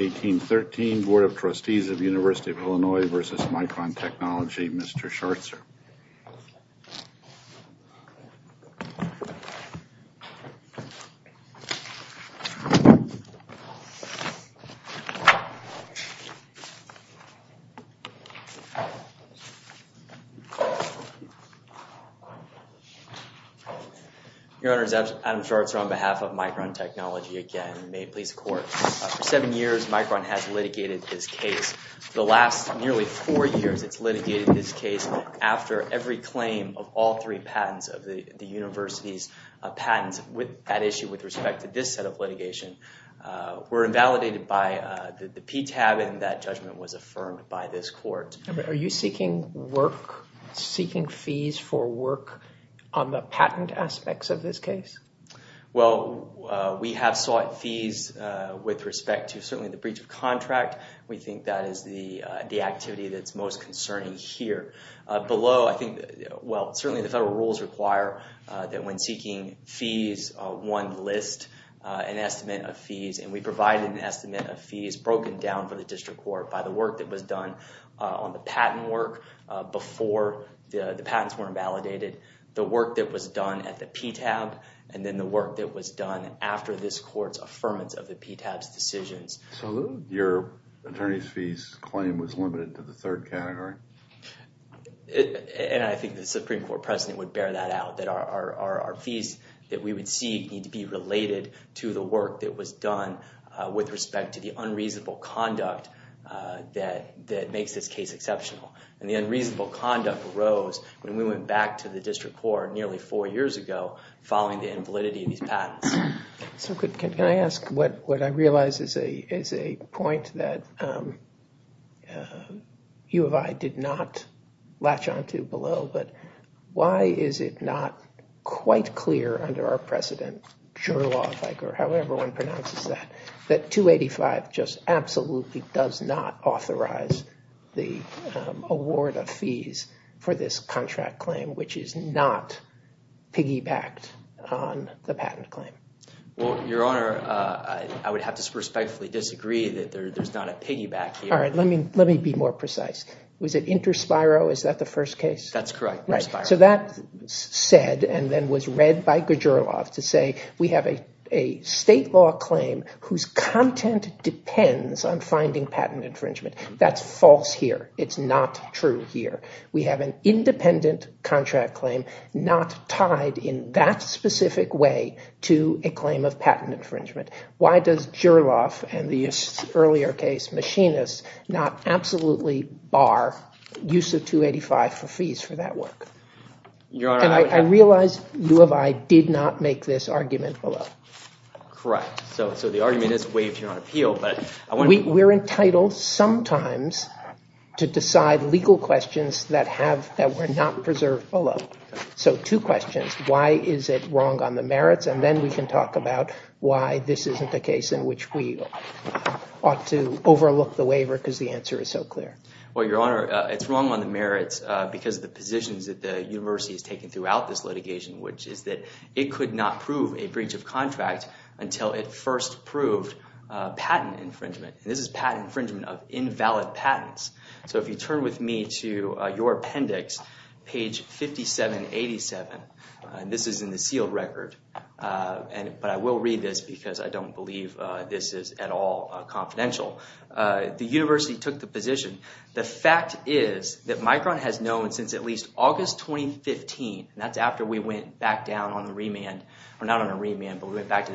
1813 Bd. of Trustees of Univ. IL v. Micron Technology, Mr. Scharzer. Your Honors, Adam Scharzer on behalf of Micron Technology, again, may it please the Court. For seven years, Micron has litigated this case. For the last nearly four years, it's of patents with that issue with respect to this set of litigation were invalidated by the PTAB and that judgment was affirmed by this Court. Are you seeking work, seeking fees for work on the patent aspects of this case? Well, we have sought fees with respect to certainly the breach of contract. We think that is the activity that's most concerning here. Below, I think, well, certainly the seeking fees, one list, an estimate of fees, and we provide an estimate of fees broken down for the District Court by the work that was done on the patent work before the patents were invalidated, the work that was done at the PTAB, and then the work that was done after this Court's affirmance of the PTAB's decisions. So your attorney's fees claim was limited to the third category? And I think the Supreme Court President would bear that out, that our fees that we would seek need to be related to the work that was done with respect to the unreasonable conduct that makes this case exceptional. And the unreasonable conduct arose when we went back to the District Court nearly four years ago following the invalidity of these patents. Can I ask, what I realize is a point that you and I did not latch onto below, but why is it not quite clear under our precedent, sure law, however one pronounces that, that 285 just absolutely does not authorize the award of fees for this contract claim, which is not piggybacked on the patent claim? Well, Your Honor, I would have to respectfully disagree that there's not a piggyback here. All right, let me be more precise. Was it inter spiro? Is that the first case? That's correct, inter spiro. So that said, and then was read by Gjurov to say, we have a state law claim whose content depends on finding patent infringement. That's false here. It's not true here. We have an independent contract claim not tied in that specific way to a claim of patent infringement. Why does Gjurov and the earlier case, Machinists, not absolutely bar use of 285 for fees for that work? Your Honor, I would have- And I realize you and I did not make this argument below. Correct. So the argument is waived here on appeal, but I want to- We're entitled sometimes to decide legal questions that were not preserved below. So two questions. Why is it wrong on the merits? And then we can talk about why this isn't the case in which we ought to overlook the waiver because the answer is so clear. Well, Your Honor, it's wrong on the merits because of the positions that the university has taken throughout this litigation, which is that it could not prove a breach of contract until it first proved patent infringement. This is patent infringement of invalid patents. So if you turn with me to your appendix, page 5787, this is in the sealed record, but I will read this because I don't believe this is at all confidential. The university took the position. The fact is that Micron has known since at least the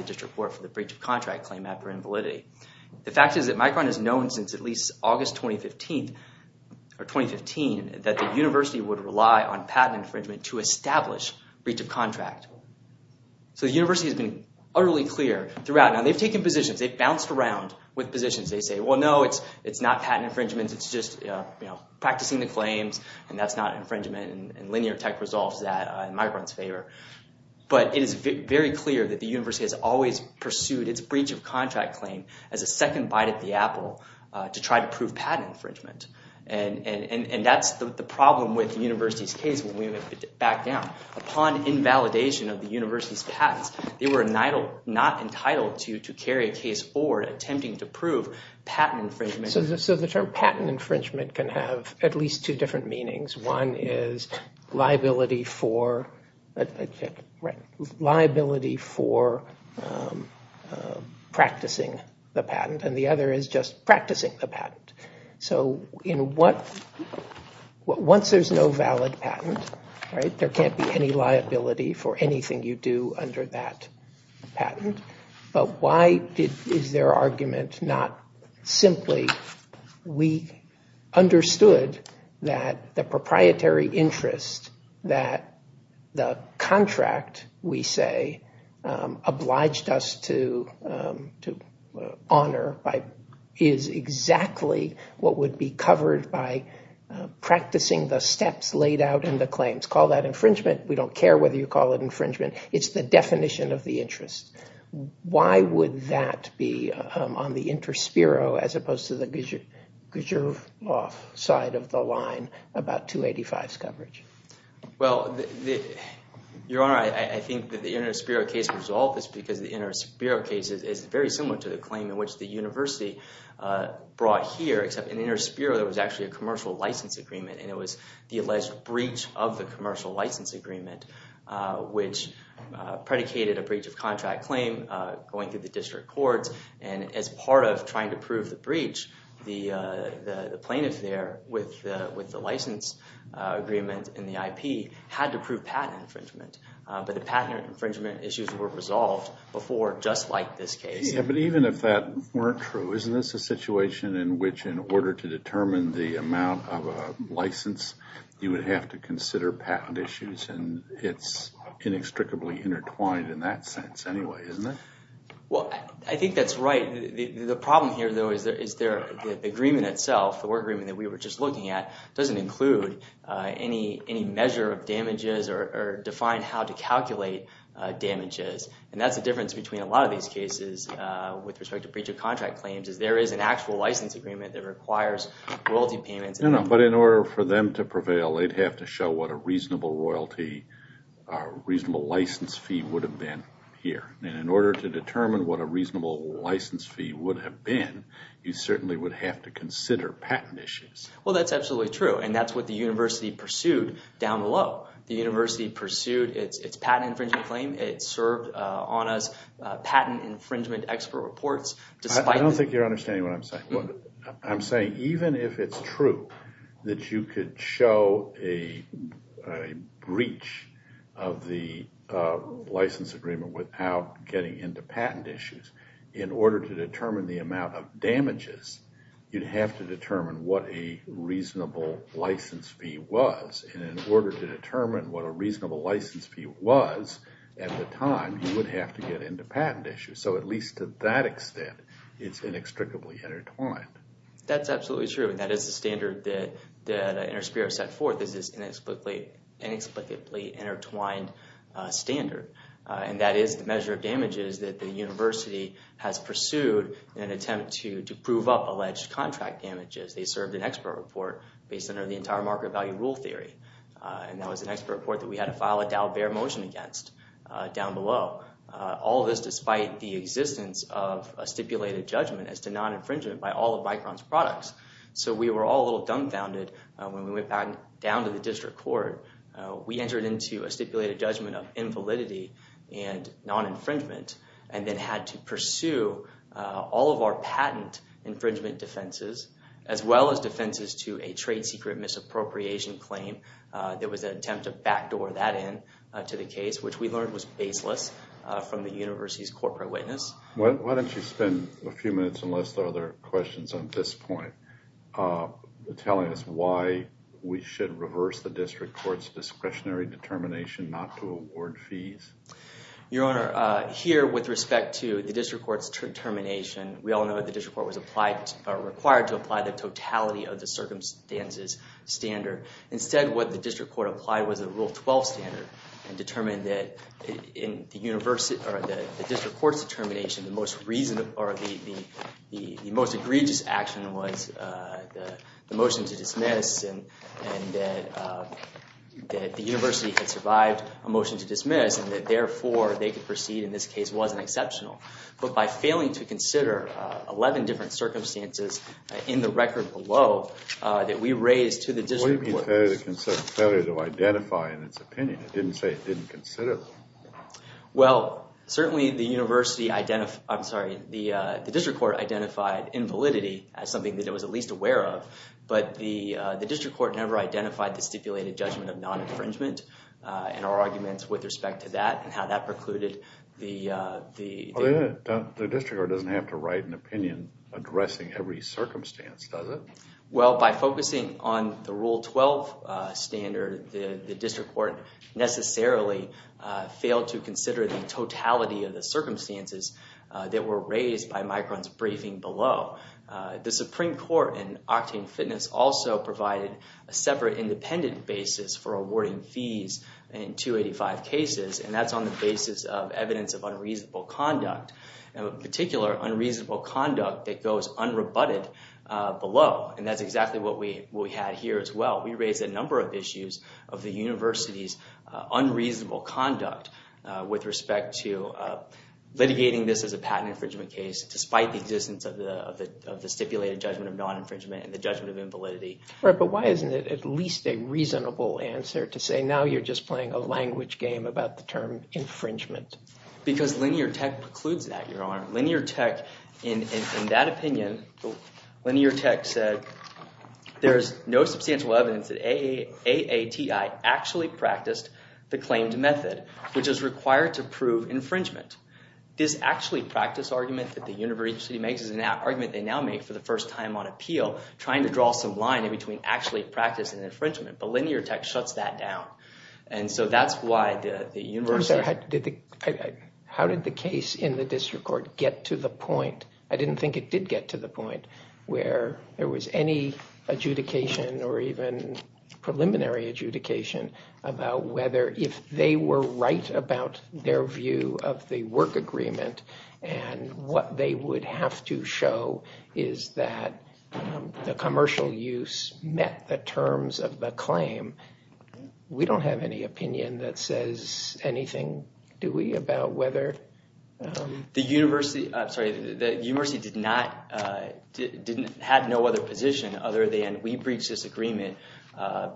District Court for the breach of contract claim after invalidity. The fact is that Micron has known since at least August 2015 that the university would rely on patent infringement to establish breach of contract. So the university has been utterly clear throughout. Now, they've taken positions. They've bounced around with positions. They say, well, no, it's not patent infringement. It's just practicing the claims, and that's not infringement. And linear tech resolves that in Micron's favor. But it is very clear that the university has always pursued its breach of contract claim as a second bite at the apple to try to prove patent infringement. And that's the problem with the university's case when we went back down. Upon invalidation of the university's patents, they were not entitled to carry a case or attempting to prove patent infringement. So the term patent infringement can have at least two different meanings. One is liability for practicing the patent, and the other is just practicing the patent. So once there's no valid patent, there can't be any liability for anything you do under that patent. But why is their argument not simply, we understood that the proprietary interest that the contract, we say, obliged us to honor is exactly what would be covered by practicing the steps laid out in the claims. Call that infringement. We don't care whether you call it infringement. It's the definition of the interest. Why would that be on the InterSpero as opposed to the Gershwof side of the line about 285's coverage? Well, Your Honor, I think that the InterSpero case resolved this because the InterSpero case is very similar to the claim in which the university brought here, except in InterSpero there was actually a commercial license agreement, and it was the alleged breach of the commercial license agreement which predicated a breach of contract claim going through the district courts. And as part of trying to prove the breach, the plaintiff there with the license agreement and the IP had to prove patent infringement. But the patent infringement issues were resolved before just like this case. Yeah, but even if that weren't true, isn't this a situation in which in order to determine the amount of a license, you would have to consider patent issues, and it's inextricably intertwined in that sense anyway, isn't it? Well, I think that's right. The problem here, though, is the agreement itself, the work agreement that we were just looking at, doesn't include any measure of damages or define how to calculate damages. And that's the difference between a lot of these cases with respect to breach of contract claims is there is an actual license agreement that requires royalty payments. No, no, but in order for them to prevail, they'd have to show what a reasonable license fee would have been here. And in order to determine what a reasonable license fee would have been, you certainly would have to consider patent issues. Well, that's absolutely true, and that's what the university pursued down below. The university pursued its patent infringement claim. It served on us patent infringement expert reports. I don't think you're understanding what I'm saying. I'm saying even if it's true that you could show a breach of the license agreement without getting into patent issues, in order to determine the amount of damages, you'd have to determine what a reasonable license fee was. And in order to determine what a reasonable license fee was at the time, you would have to get into patent issues. So at least to that extent, it's inextricably intertwined. That's absolutely true, and that is the standard that Interspeer has set forth, is this inexplicably intertwined standard. And that is the measure of damages that the university has pursued in an attempt to prove up alleged contract damages. They served an expert report based on the entire market value rule theory. And that was an expert report that we had to file a Dow bear motion against down below. All of this despite the existence of a stipulated judgment as to non-infringement by all of Micron's products. So we were all a little dumbfounded when we went back down to the district court. We entered into a stipulated judgment of invalidity and non-infringement, and then had to pursue all of our patent infringement defenses, as well as defenses to a trade secret misappropriation claim. There was an attempt to backdoor that in to the case, which we learned was baseless from the university's corporate witness. Why don't you spend a few minutes, unless there are other questions on this point, telling us why we should reverse the district court's discretionary determination not to award fees? Your Honor, here with respect to the district court's determination, we all know that the district court was required to apply the totality of the circumstances standard. Instead, what the district court applied was a Rule 12 standard and determined that the district court's determination, the most egregious action was the motion to dismiss and that the university had survived a motion to dismiss and that therefore they could proceed in this case wasn't exceptional. But by failing to consider 11 different circumstances in the record below that we raised to the district court... What do you mean by failure to consider, failure to identify in its opinion? It didn't say it didn't consider them. Well, certainly the university identified, I'm sorry, the district court identified invalidity as something that it was at least aware of, but the district court never identified the stipulated judgment of non-infringement in our arguments with respect to that and how that precluded the... The district court doesn't have to write an opinion addressing every circumstance, does it? Well, by focusing on the Rule 12 standard, the district court necessarily failed to consider the totality of the circumstances that were raised by Micron's briefing below. The Supreme Court in Octane Fitness also provided a separate independent basis for awarding fees in 285 cases, and that's on the basis of evidence of unreasonable conduct, and in particular, unreasonable conduct that goes unrebutted below, and that's exactly what we had here as well. We raised a number of issues of the university's unreasonable conduct with respect to litigating this as a patent infringement case despite the existence of the stipulated judgment of non-infringement and the judgment of invalidity. Right, but why isn't it at least a reasonable answer to say, now you're just playing a language game about the term infringement? Because Linear Tech precludes that, Your Honor. Linear Tech, in that opinion, Linear Tech said, there's no substantial evidence that AATI actually practiced the claimed method, which is required to prove infringement. This actually practice argument that the university makes is an argument they now make for the first time on appeal, trying to draw some line in between actually practice and infringement, but Linear Tech shuts that down, and so that's why the university... How did the case in the district court get to the point? I didn't think it did get to the point where there was any adjudication or even preliminary adjudication about whether if they were right about their view of the work agreement and what they would have to show is that the commercial use met the terms of the claim. We don't have any opinion that says anything, do we, about whether... The university did not have no other position other than we breached this agreement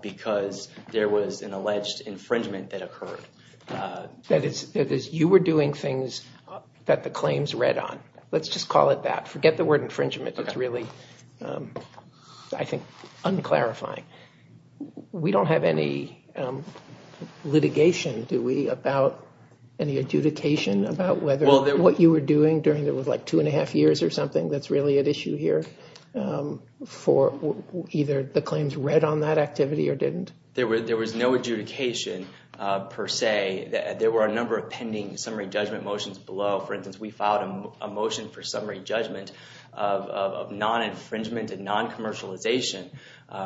because there was an alleged infringement that occurred. That is, you were doing things that the claims read on. Let's just call it that. Forget the word infringement. It's really, I think, un-clarifying. We don't have any litigation, do we, about any adjudication about whether what you were doing during those 2 1⁄2 years or something that's really at issue here for either the claims read on that activity or didn't? There was no adjudication per se. There were a number of pending summary judgment motions below. For instance, we filed a motion for summary judgment of non-infringement and non-commercialization,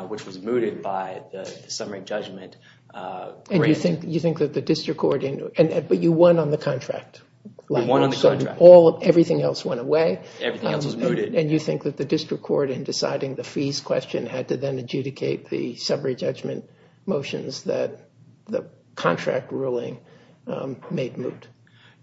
which was mooted by the summary judgment grant. And you think that the district court... But you won on the contract. We won on the contract. Everything else went away. Everything else was mooted. And you think that the district court, in deciding the fees question, had to then adjudicate the summary judgment motions that the contract ruling made moot?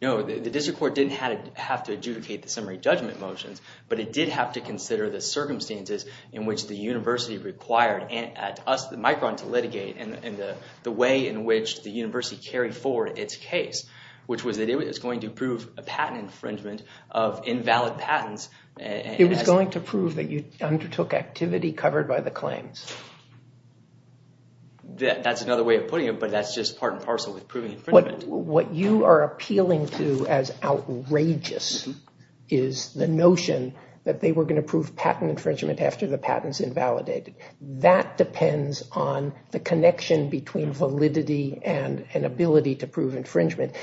No, the district court didn't have to adjudicate the summary judgment motions, but it did have to consider the circumstances in which the university required Micron to litigate and the way in which the university carried forward its case, which was that it was going to prove a patent infringement of invalid patents. It was going to prove that you undertook activity covered by the claims? That's another way of putting it, but that's just part and parcel with proving infringement. What you are appealing to as outrageous is the notion that they were going to prove patent infringement after the patent's invalidated. That depends on the connection between validity and an ability to prove infringement.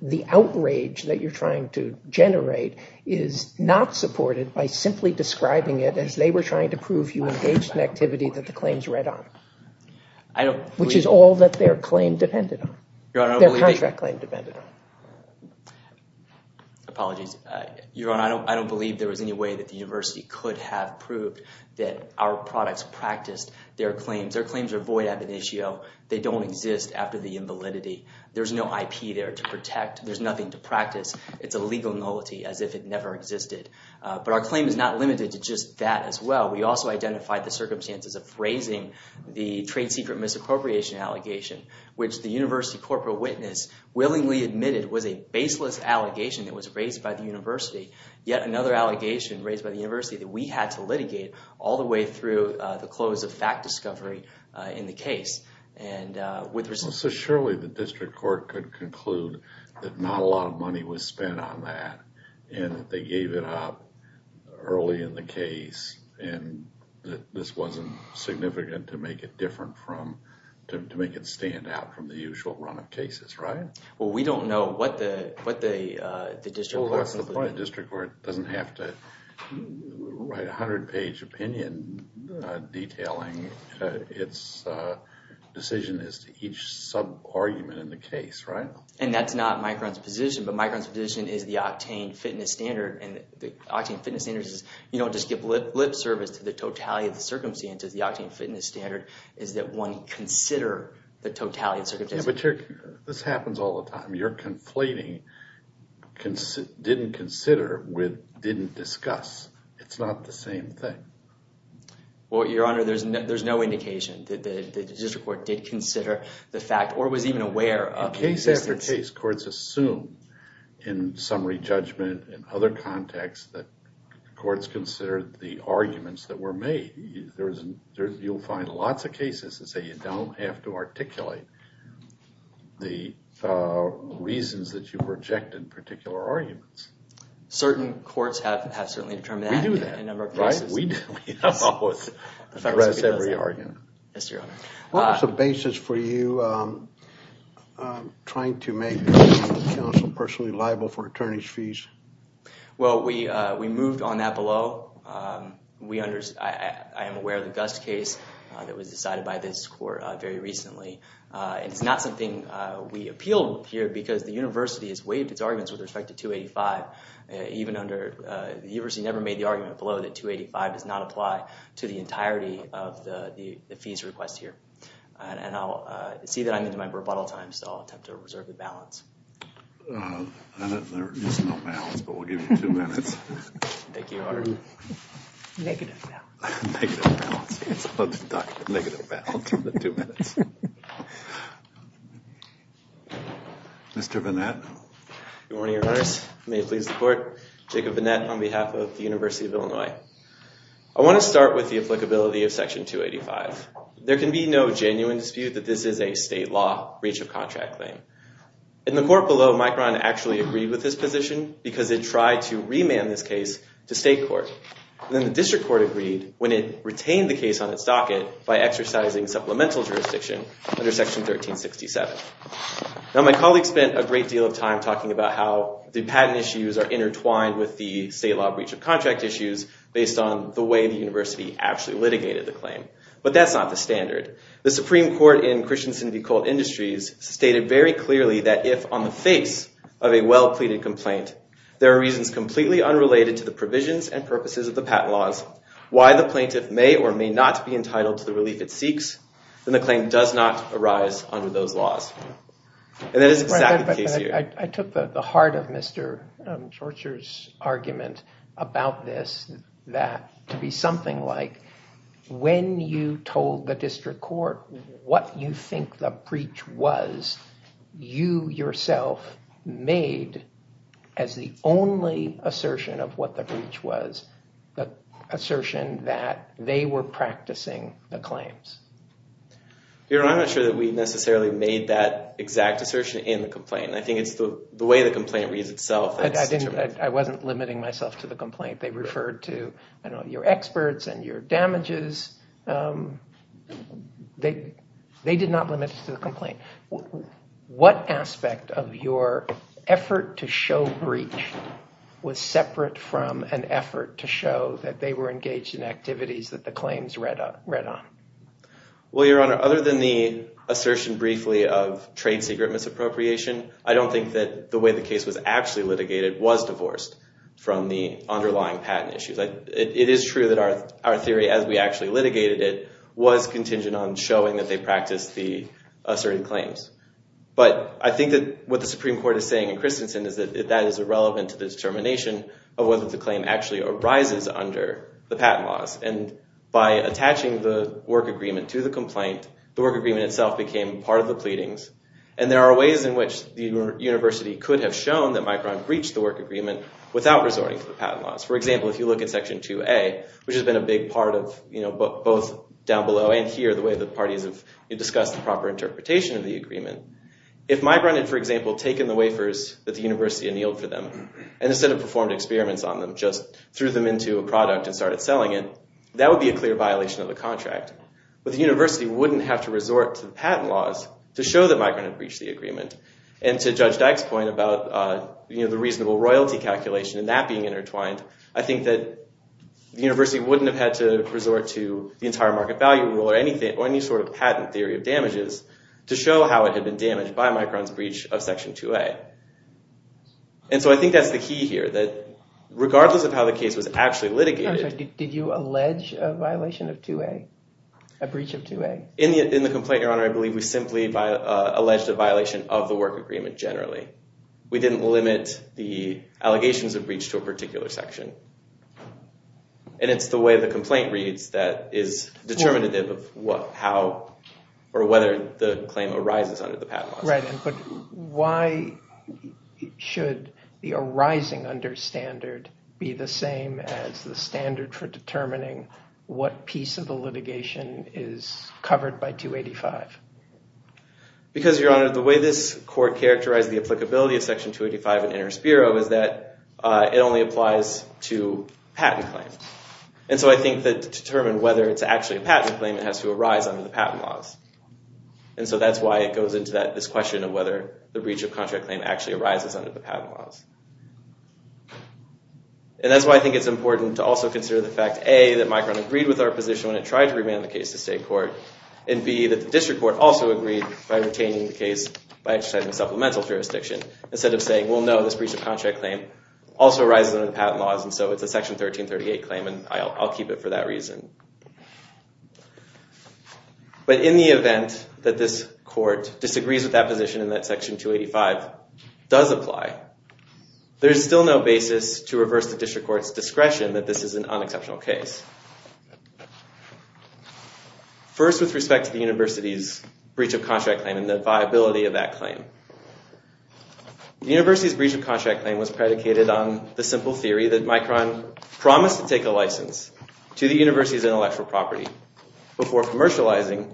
The outrage that you're trying to generate is not supported by simply describing it as they were trying to prove you engaged in activity that the claims read on, which is all that their claim depended on, their contract claim depended on. Apologies. Your Honor, I don't believe there was any way that the university could have proved that our products practiced their claims. Their claims are void ab initio. They don't exist after the invalidity. There's no IP there to protect. There's nothing to practice. It's a legal nullity as if it never existed. But our claim is not limited to just that as well. We also identified the circumstances of phrasing the trade secret misappropriation allegation, which the university corporate witness willingly admitted was a baseless allegation that was raised by the university, yet another allegation raised by the university that we had to litigate all the way through the close of fact discovery in the case. So surely the district court could conclude that not a lot of money was spent on that and that they gave it up early in the case and that this wasn't significant to make it different from, to make it stand out from the usual run of cases, right? Well, we don't know what the district court concluded. Well, that's the point. The district court doesn't have to write a 100-page opinion detailing its decision as to each sub-argument in the case, right? And that's not Micron's position, but Micron's position is the octane fitness standard, and the octane fitness standard is, you know, just give lip service to the totality of the circumstances. The octane fitness standard is that one consider the totality of the circumstances. Yeah, but this happens all the time. You're conflating didn't consider with didn't discuss. It's not the same thing. Well, Your Honor, there's no indication that the district court did consider the fact or was even aware of the existence. In case after case, courts assume in summary judgment and other contexts that courts considered the arguments that were made. You'll find lots of cases that say you don't have to articulate the reasons that you rejected particular arguments. Certain courts have certainly determined that in a number of cases. We do that, right? We do. We don't always arrest every argument. Yes, Your Honor. What was the basis for you trying to make the council personally liable for attorney's fees? Well, we moved on that below. I am aware of the Gust case that was decided by this court very recently. It's not something we appealed here because the university has waived its arguments with respect to 285. Even under the university never made the argument below that 285 does not apply to the entirety of the fees request here. And I'll see that I'm in my rebuttal time. So I'll attempt to reserve the balance. There is no balance, but we'll give you two minutes. Thank you, Your Honor. Negative balance. Negative balance. Negative balance for the two minutes. Mr. Vanette. Good morning, Your Honors. May it please the court. Jacob Vanette on behalf of the University of Illinois. I want to start with the applicability of Section 285. There can be no genuine dispute that this is a state law breach of contract claim. In the court below, Mike Rahn actually agreed with this position because it tried to remand this case to state court. Then the district court agreed when it retained the case on its docket by exercising supplemental jurisdiction under Section 1367. Now my colleague spent a great deal of time talking about how the patent issues are intertwined with the state law breach of contract issues based on the way the university actually litigated the claim. But that's not the standard. The Supreme Court in Christensen v. Colt Industries stated very clearly that if on the face of a well-pleaded complaint, there are reasons completely unrelated to the provisions and purposes of the patent laws, why the plaintiff may or may not be entitled to the relief it seeks, then the claim does not arise under those laws. And that is exactly the case here. I took the heart of Mr. Chorcher's argument about this that to be something like when you told the district court what you think the breach was, you yourself made as the only assertion of what the breach was the assertion that they were practicing the claims. Your Honor, I'm not sure that we necessarily made that exact assertion in the complaint. I think it's the way the complaint reads itself. I wasn't limiting myself to the complaint. They referred to your experts and your damages. They did not limit it to the complaint. What aspect of your effort to show breach was separate from an effort to show that they were engaged in activities that the claims read on? Well, Your Honor, other than the assertion briefly of trade secret misappropriation, I don't think that the way the case was actually litigated was divorced from the underlying patent issues. It is true that our theory, as we actually litigated it, was contingent on showing that they practiced the asserted claims. But I think that what the Supreme Court is saying in Christensen is that that is irrelevant to the determination of whether the claim actually arises under the patent laws. And by attaching the work agreement to the complaint, the work agreement itself became part of the pleadings. And there are ways in which the university could have shown that Micron breached the work agreement without resorting to the patent laws. For example, if you look at Section 2A, which has been a big part of both down below and here, the way the parties have discussed the proper interpretation of the agreement, if Micron had, for example, taken the wafers that the university annealed for them and instead of performed experiments on them, just threw them into a product and started selling it, that would be a clear violation of the contract. But the university wouldn't have to resort to the patent laws to show that Micron had breached the agreement. And to Judge Dyke's point about the reasonable royalty calculation and that being intertwined, I think that the university wouldn't have had to resort to the entire market value rule or any sort of patent theory of damages to show how it had been damaged by Micron's breach of Section 2A. And so I think that's the key here, that regardless of how the case was actually litigated. Did you allege a violation of 2A, a breach of 2A? In the complaint, Your Honor, I believe we simply alleged a violation of the work agreement generally. We didn't limit the allegations of breach to a particular section. And it's the way the complaint reads that is determinative of how or whether the claim arises under the patent laws. Right. But why should the arising under standard be the same as the standard for determining what piece of the litigation is covered by 285? Because, Your Honor, the way this court characterized the applicability of Section 285 in Interest Bureau is that it only applies to patent claims. And so I think that to determine whether it's actually a patent claim, it has to arise under the patent laws. And so that's why it goes into this question of whether the breach of contract claim actually arises under the patent laws. And that's why I think it's important to also consider the fact, A, that Micron agreed with our position when it tried to remand the case to state court, and B, that the district court also agreed by retaining the case by exercising supplemental jurisdiction, instead of saying, well, no, this breach of contract claim also arises under the patent laws, and so it's a Section 1338 claim, and I'll keep it for that reason. But in the event that this court disagrees with that position and that Section 285 does apply, there is still no basis to reverse the district court's discretion that this is an unexceptional case. First, with respect to the university's breach of contract claim and the viability of that claim. The university's breach of contract claim was predicated on the simple theory that Micron promised to take a license to the university's intellectual property before commercializing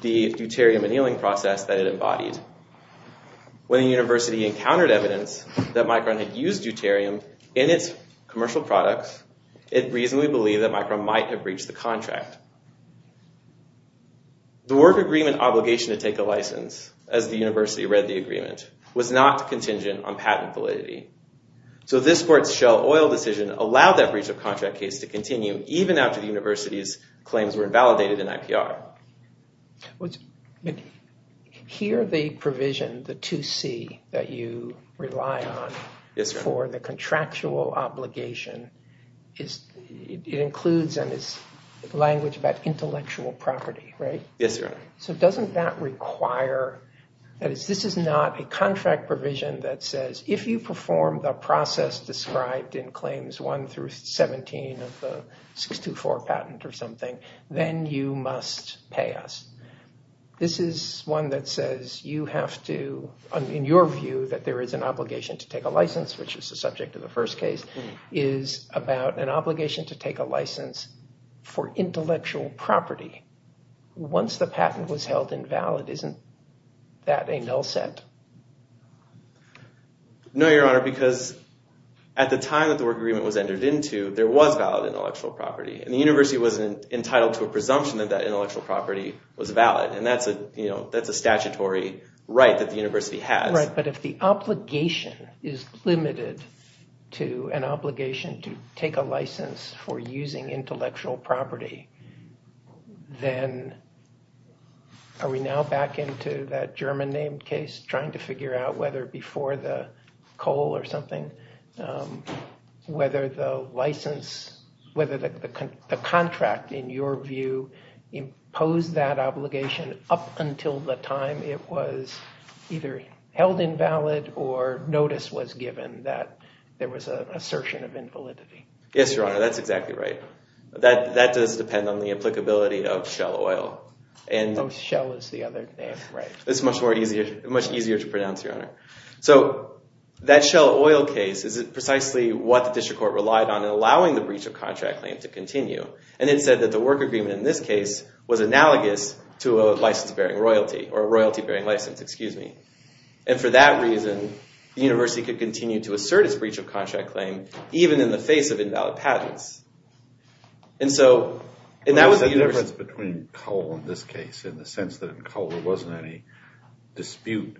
the deuterium annealing process that it embodied. When the university encountered evidence that Micron had used deuterium in its commercial products, it reasonably believed that Micron might have breached the contract. The work agreement obligation to take a license, as the university read the agreement, was not contingent on patent validity. So this court's Shell Oil decision allowed that breach of contract case to continue even after the university's claims were invalidated in IPR. Here they provision the 2C that you rely on for the contractual obligation. It includes language about intellectual property, right? Yes, your honor. So doesn't that require, this is not a contract provision that says if you perform the process described in claims 1 through 17 of the 624 patent or something, then you must pay us. This is one that says you have to, in your view, that there is an obligation to take a license, which was the subject of the first case, is about an obligation to take a license for intellectual property. Once the patent was held invalid, isn't that a null set? No, your honor, because at the time that the work agreement was entered into there was valid intellectual property and the university wasn't entitled to a presumption that that intellectual property was valid and that's a statutory right that the university has. Right, but if the obligation is limited to an obligation to take a license for using intellectual property, then are we now back into that German name case trying to figure out whether before the coal or something, whether the license, whether the contract, in your view, imposed that obligation up until the time it was either held invalid or notice was given that there was an assertion of invalidity? Yes, your honor, that's exactly right. That does depend on the applicability of Shell Oil. Oh, Shell is the other name, right. It's much easier to pronounce, your honor. So that Shell Oil case is precisely what the district court relied on in allowing the breach of contract claim to continue and it said that the work agreement in this case was analogous to a license bearing royalty or a royalty bearing license, excuse me. And for that reason, the university could continue to assert its breach of contract claim even in the face of invalid patents. And so, and that was the university... What is the difference between coal in this case in the sense that in coal there wasn't any dispute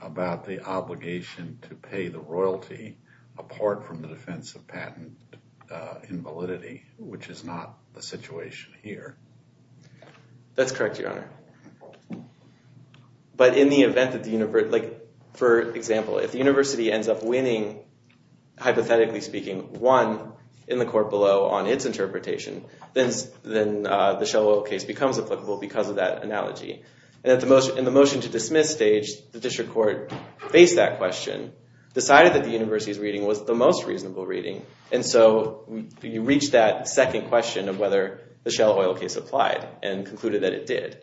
about the obligation to pay the royalty apart from the defense of patent invalidity, which is not the situation here? That's correct, your honor. But in the event that the university, for example, if the university ends up winning, hypothetically speaking, one in the court below on its interpretation, then the Shell Oil case becomes applicable because of that analogy. And in the motion to dismiss stage, the district court faced that question, decided that the university's reading was the most reasonable reading, and so you reach that second question of whether the Shell Oil case applied and concluded that it did.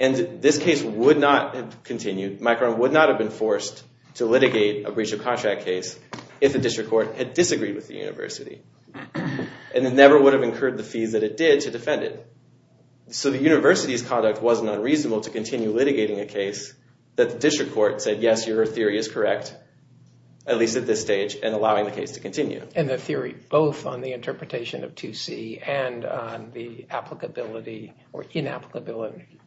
And this case would not have continued. Micron would not have been forced to litigate a breach of contract case if the district court had disagreed with the university. And it never would have incurred the fees that it did to defend it. So the university's conduct wasn't unreasonable to continue litigating a case that the district court said, yes, your theory is correct, at least at this stage, and allowing the case to continue. And the theory both on the interpretation of 2C and on the applicability or inapplicability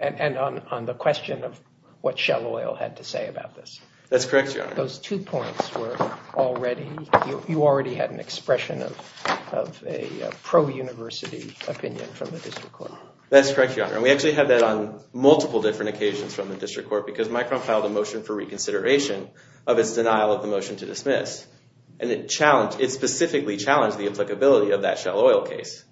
and on the question of what Shell Oil had to say about this. That's correct, Your Honor. Those two points were already, you already had an expression of a pro-university opinion from the district court. That's correct, Your Honor. And we actually had that on multiple different occasions from the district court because Micron filed a motion for reconsideration of its denial of the motion to dismiss. And it challenged, it specifically challenged the applicability of that Shell Oil case.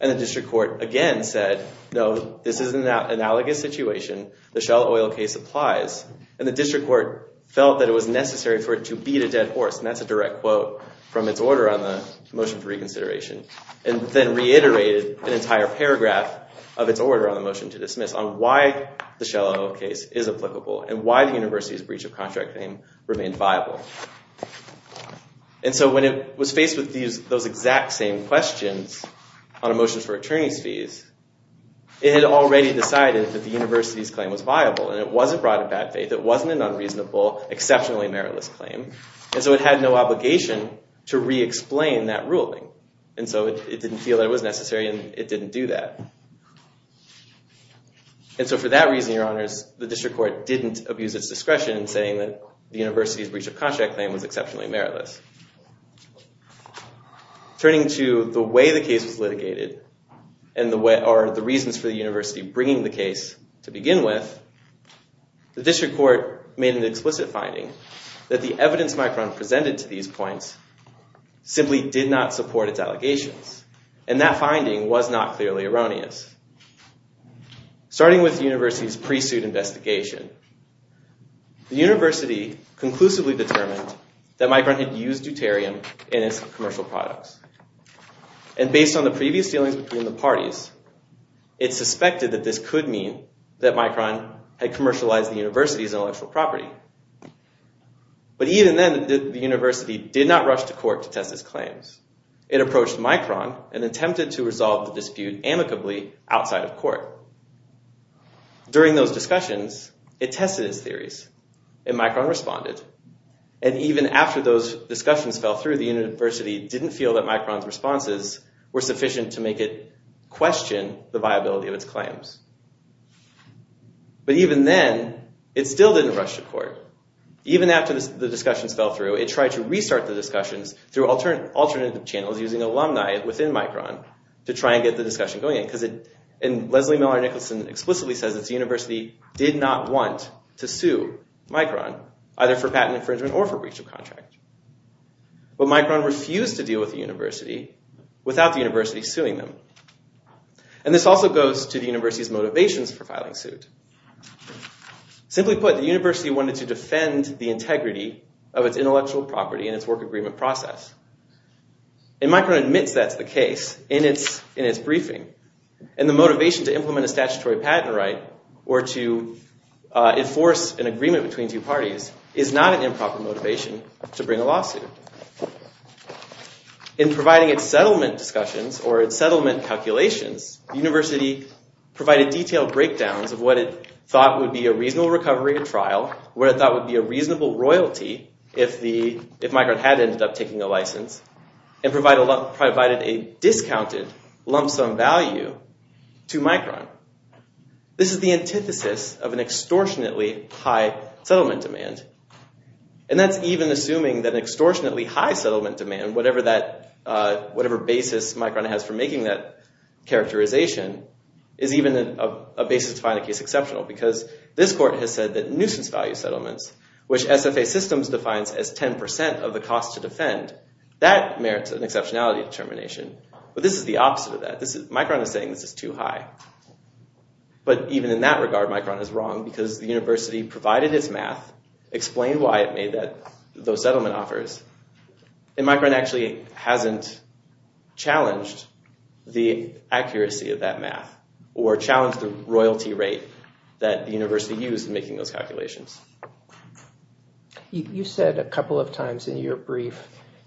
And the district court again said, no, this is an analogous situation. The Shell Oil case applies. And the district court felt that it was necessary for it to beat a dead horse. And that's a direct quote from its order on the motion for reconsideration. And then reiterated an entire paragraph of its order on the motion to dismiss on why the Shell Oil case is applicable and why the university's breach of contract claim remained viable. And so when it was faced with those exact same questions on a motion for attorney's fees, it had already decided that the university's claim was viable and it wasn't brought to bad faith. It wasn't an unreasonable, exceptionally meritless claim. And so it had no obligation to re-explain that ruling. And so it didn't feel that it was necessary and it didn't do that. And so for that reason, Your Honors, the district court didn't abuse its discretion in saying that the university's breach of contract claim was exceptionally meritless. Turning to the way the case was litigated and the reasons for the university bringing the case to begin with, the district court made an explicit finding that the evidence Micron presented to these points simply did not support its allegations. And that finding was not clearly erroneous. Starting with the university's pre-suit investigation, the university conclusively determined that Micron had used Deuterium in its commercial products. And based on the previous dealings between the parties, it suspected that this could mean that Micron had commercialized the university's intellectual property. But even then, the university did not rush to court to test its claims. It approached Micron and attempted to resolve the dispute amicably outside of court. During those discussions, it tested its theories and Micron responded. And even after those discussions fell through, the university didn't feel that Micron's responses were sufficient to make it question the viability of its claims. But even then, it still didn't rush to court. Even after the discussions fell through, it tried to restart the discussions through alternative channels using alumni within Micron to try and get the discussion going. Leslie Miller Nicholson explicitly says that the university did not want to sue Micron either for patent infringement or for breach of contract. But Micron refused to deal with the university without the university suing them. And this also goes to the university's motivations for filing suit. Simply put, the university wanted to defend the integrity of its intellectual property and its work agreement process. And Micron admits that's the case in its briefing. And the motivation to implement a statutory patent right or to enforce an agreement between two parties is not an improper motivation to bring a lawsuit. In providing its settlement discussions or its settlement calculations, the university provided detailed breakdowns of what it thought would be a reasonable recovery or trial, what it thought would be a reasonable royalty if Micron had ended up taking a license, and provided a discounted lump sum value to Micron. This is the antithesis of an extortionately high settlement demand. And that's even assuming that an extortionately high settlement demand, whatever basis Micron has for making that characterization, is even a basis to find a case exceptional. Because this court has said that nuisance value settlements, which SFA Systems defines as 10% of the cost to defend, that merits an exceptionality determination. But this is the opposite of that. Micron is saying this is too high. But even in that regard, Micron is wrong because the university provided its math, explained why it made those settlement offers, and Micron actually hasn't challenged the accuracy of that math or challenged the royalty rate that the university used in making those calculations. You said a couple of times in your brief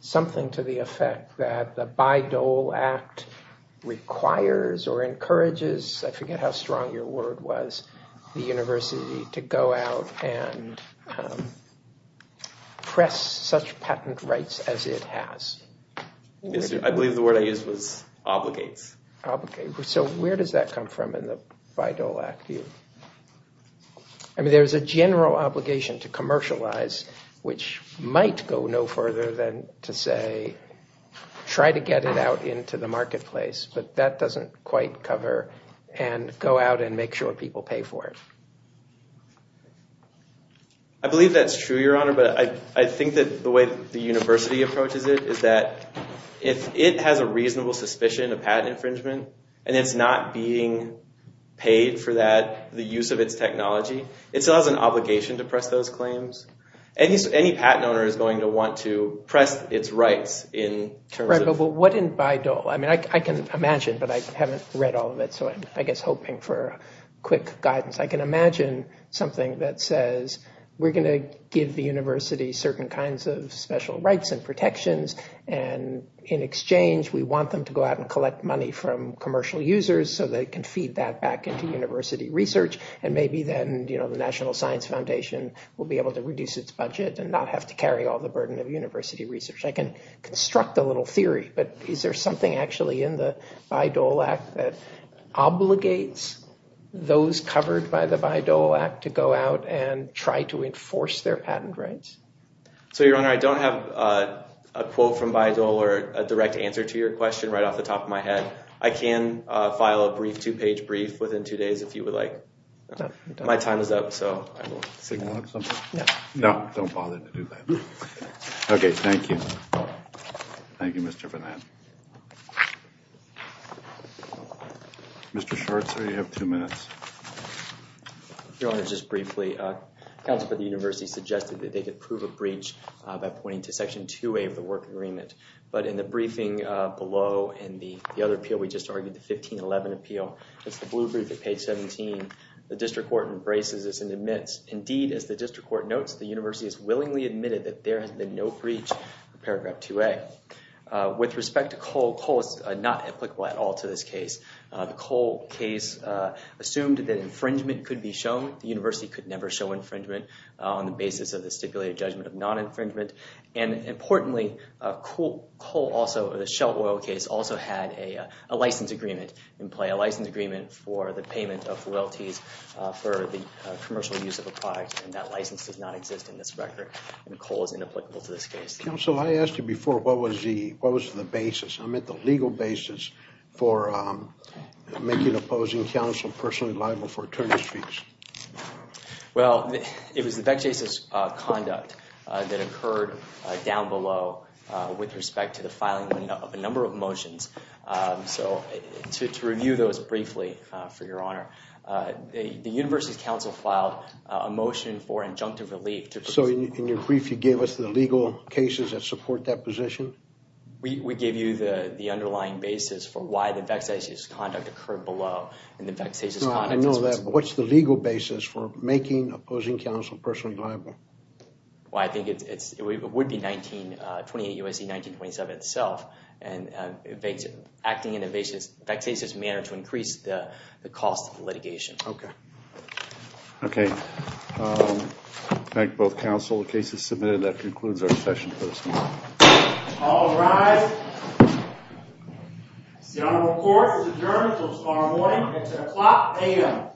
something to the effect that the Bayh-Dole Act requires or encourages, I forget how strong your word was, the university to go out and press such patent rights as it has. I believe the word I used was obligates. Obligates. So where does that come from in the Bayh-Dole Act? I mean, there's a general obligation to commercialize, which might go no further than to say try to get it out into the marketplace, but that doesn't quite cover and go out and make sure people pay for it. I believe that's true, Your Honor, but I think that the way the university approaches it is that if it has a reasonable suspicion of patent infringement and it's not being paid for that, the use of its technology, it still has an obligation to press those claims. Any patent owner is going to want to press its rights in terms of... Right, but what in Bayh-Dole? I mean, I can imagine, but I haven't read all of it, so I'm, I guess, hoping for quick guidance. I can imagine something that says we're going to give the university certain kinds of special rights and protections, and in exchange we want them to go out and collect money from commercial users so they can feed that back into university research, and maybe then the National Science Foundation will be able to reduce its budget and not have to carry all the burden of university research. I can construct a little theory, but is there something actually in the Bayh-Dole Act that obligates those covered by the Bayh-Dole Act to go out and try to enforce their patent rights? So, Your Honor, I don't have a quote from Bayh-Dole or a direct answer to your question right off the top of my head. I can file a brief two-page brief within two days if you would like. My time is up, so I will... Signal it or something? Yeah. No, don't bother to do that. Okay, thank you. Thank you, Mr. Fernand. Mr. Scharzer, you have two minutes. Your Honor, just briefly, counsel for the university suggested that they could prove a breach by pointing to Section 2A of the work agreement, but in the briefing below in the other appeal we just argued, the 1511 appeal, it's the blue brief at page 17, the district court embraces this and admits, indeed, as the district court notes, the university has willingly admitted that there has been no breach of Paragraph 2A. With respect to Cole, Cole is not applicable at all to this case. The Cole case assumed that infringement could be shown. The university could never show infringement on the basis of the stipulated judgment of non-infringement. Importantly, Cole also, the Shell Oil case, also had a license agreement in play, a license agreement for the payment of royalties for the commercial use of a product, and that license does not exist in this record, and Cole is inapplicable to this case. Counsel, I asked you before, what was the basis? I meant the legal basis for making opposing counsel personally liable for attorney's fees. Well, it was the vexatious conduct that occurred down below with respect to the filing of a number of motions. So, to review those briefly, for your honor, the university's counsel filed a motion for injunctive relief. So, in your brief, you gave us the legal cases that support that position? We gave you the underlying basis for why the vexatious conduct occurred below. No, I know that, but what's the legal basis for making opposing counsel personally liable? Well, I think it would be 1928 U.S.C., 1927 itself, and acting in a vexatious manner to increase the cost of litigation. Okay. Okay. Thank both counsel. The case is submitted. That concludes our session for this morning. All rise. The honorable court is adjourned until tomorrow morning at 10 o'clock a.m. Thank you.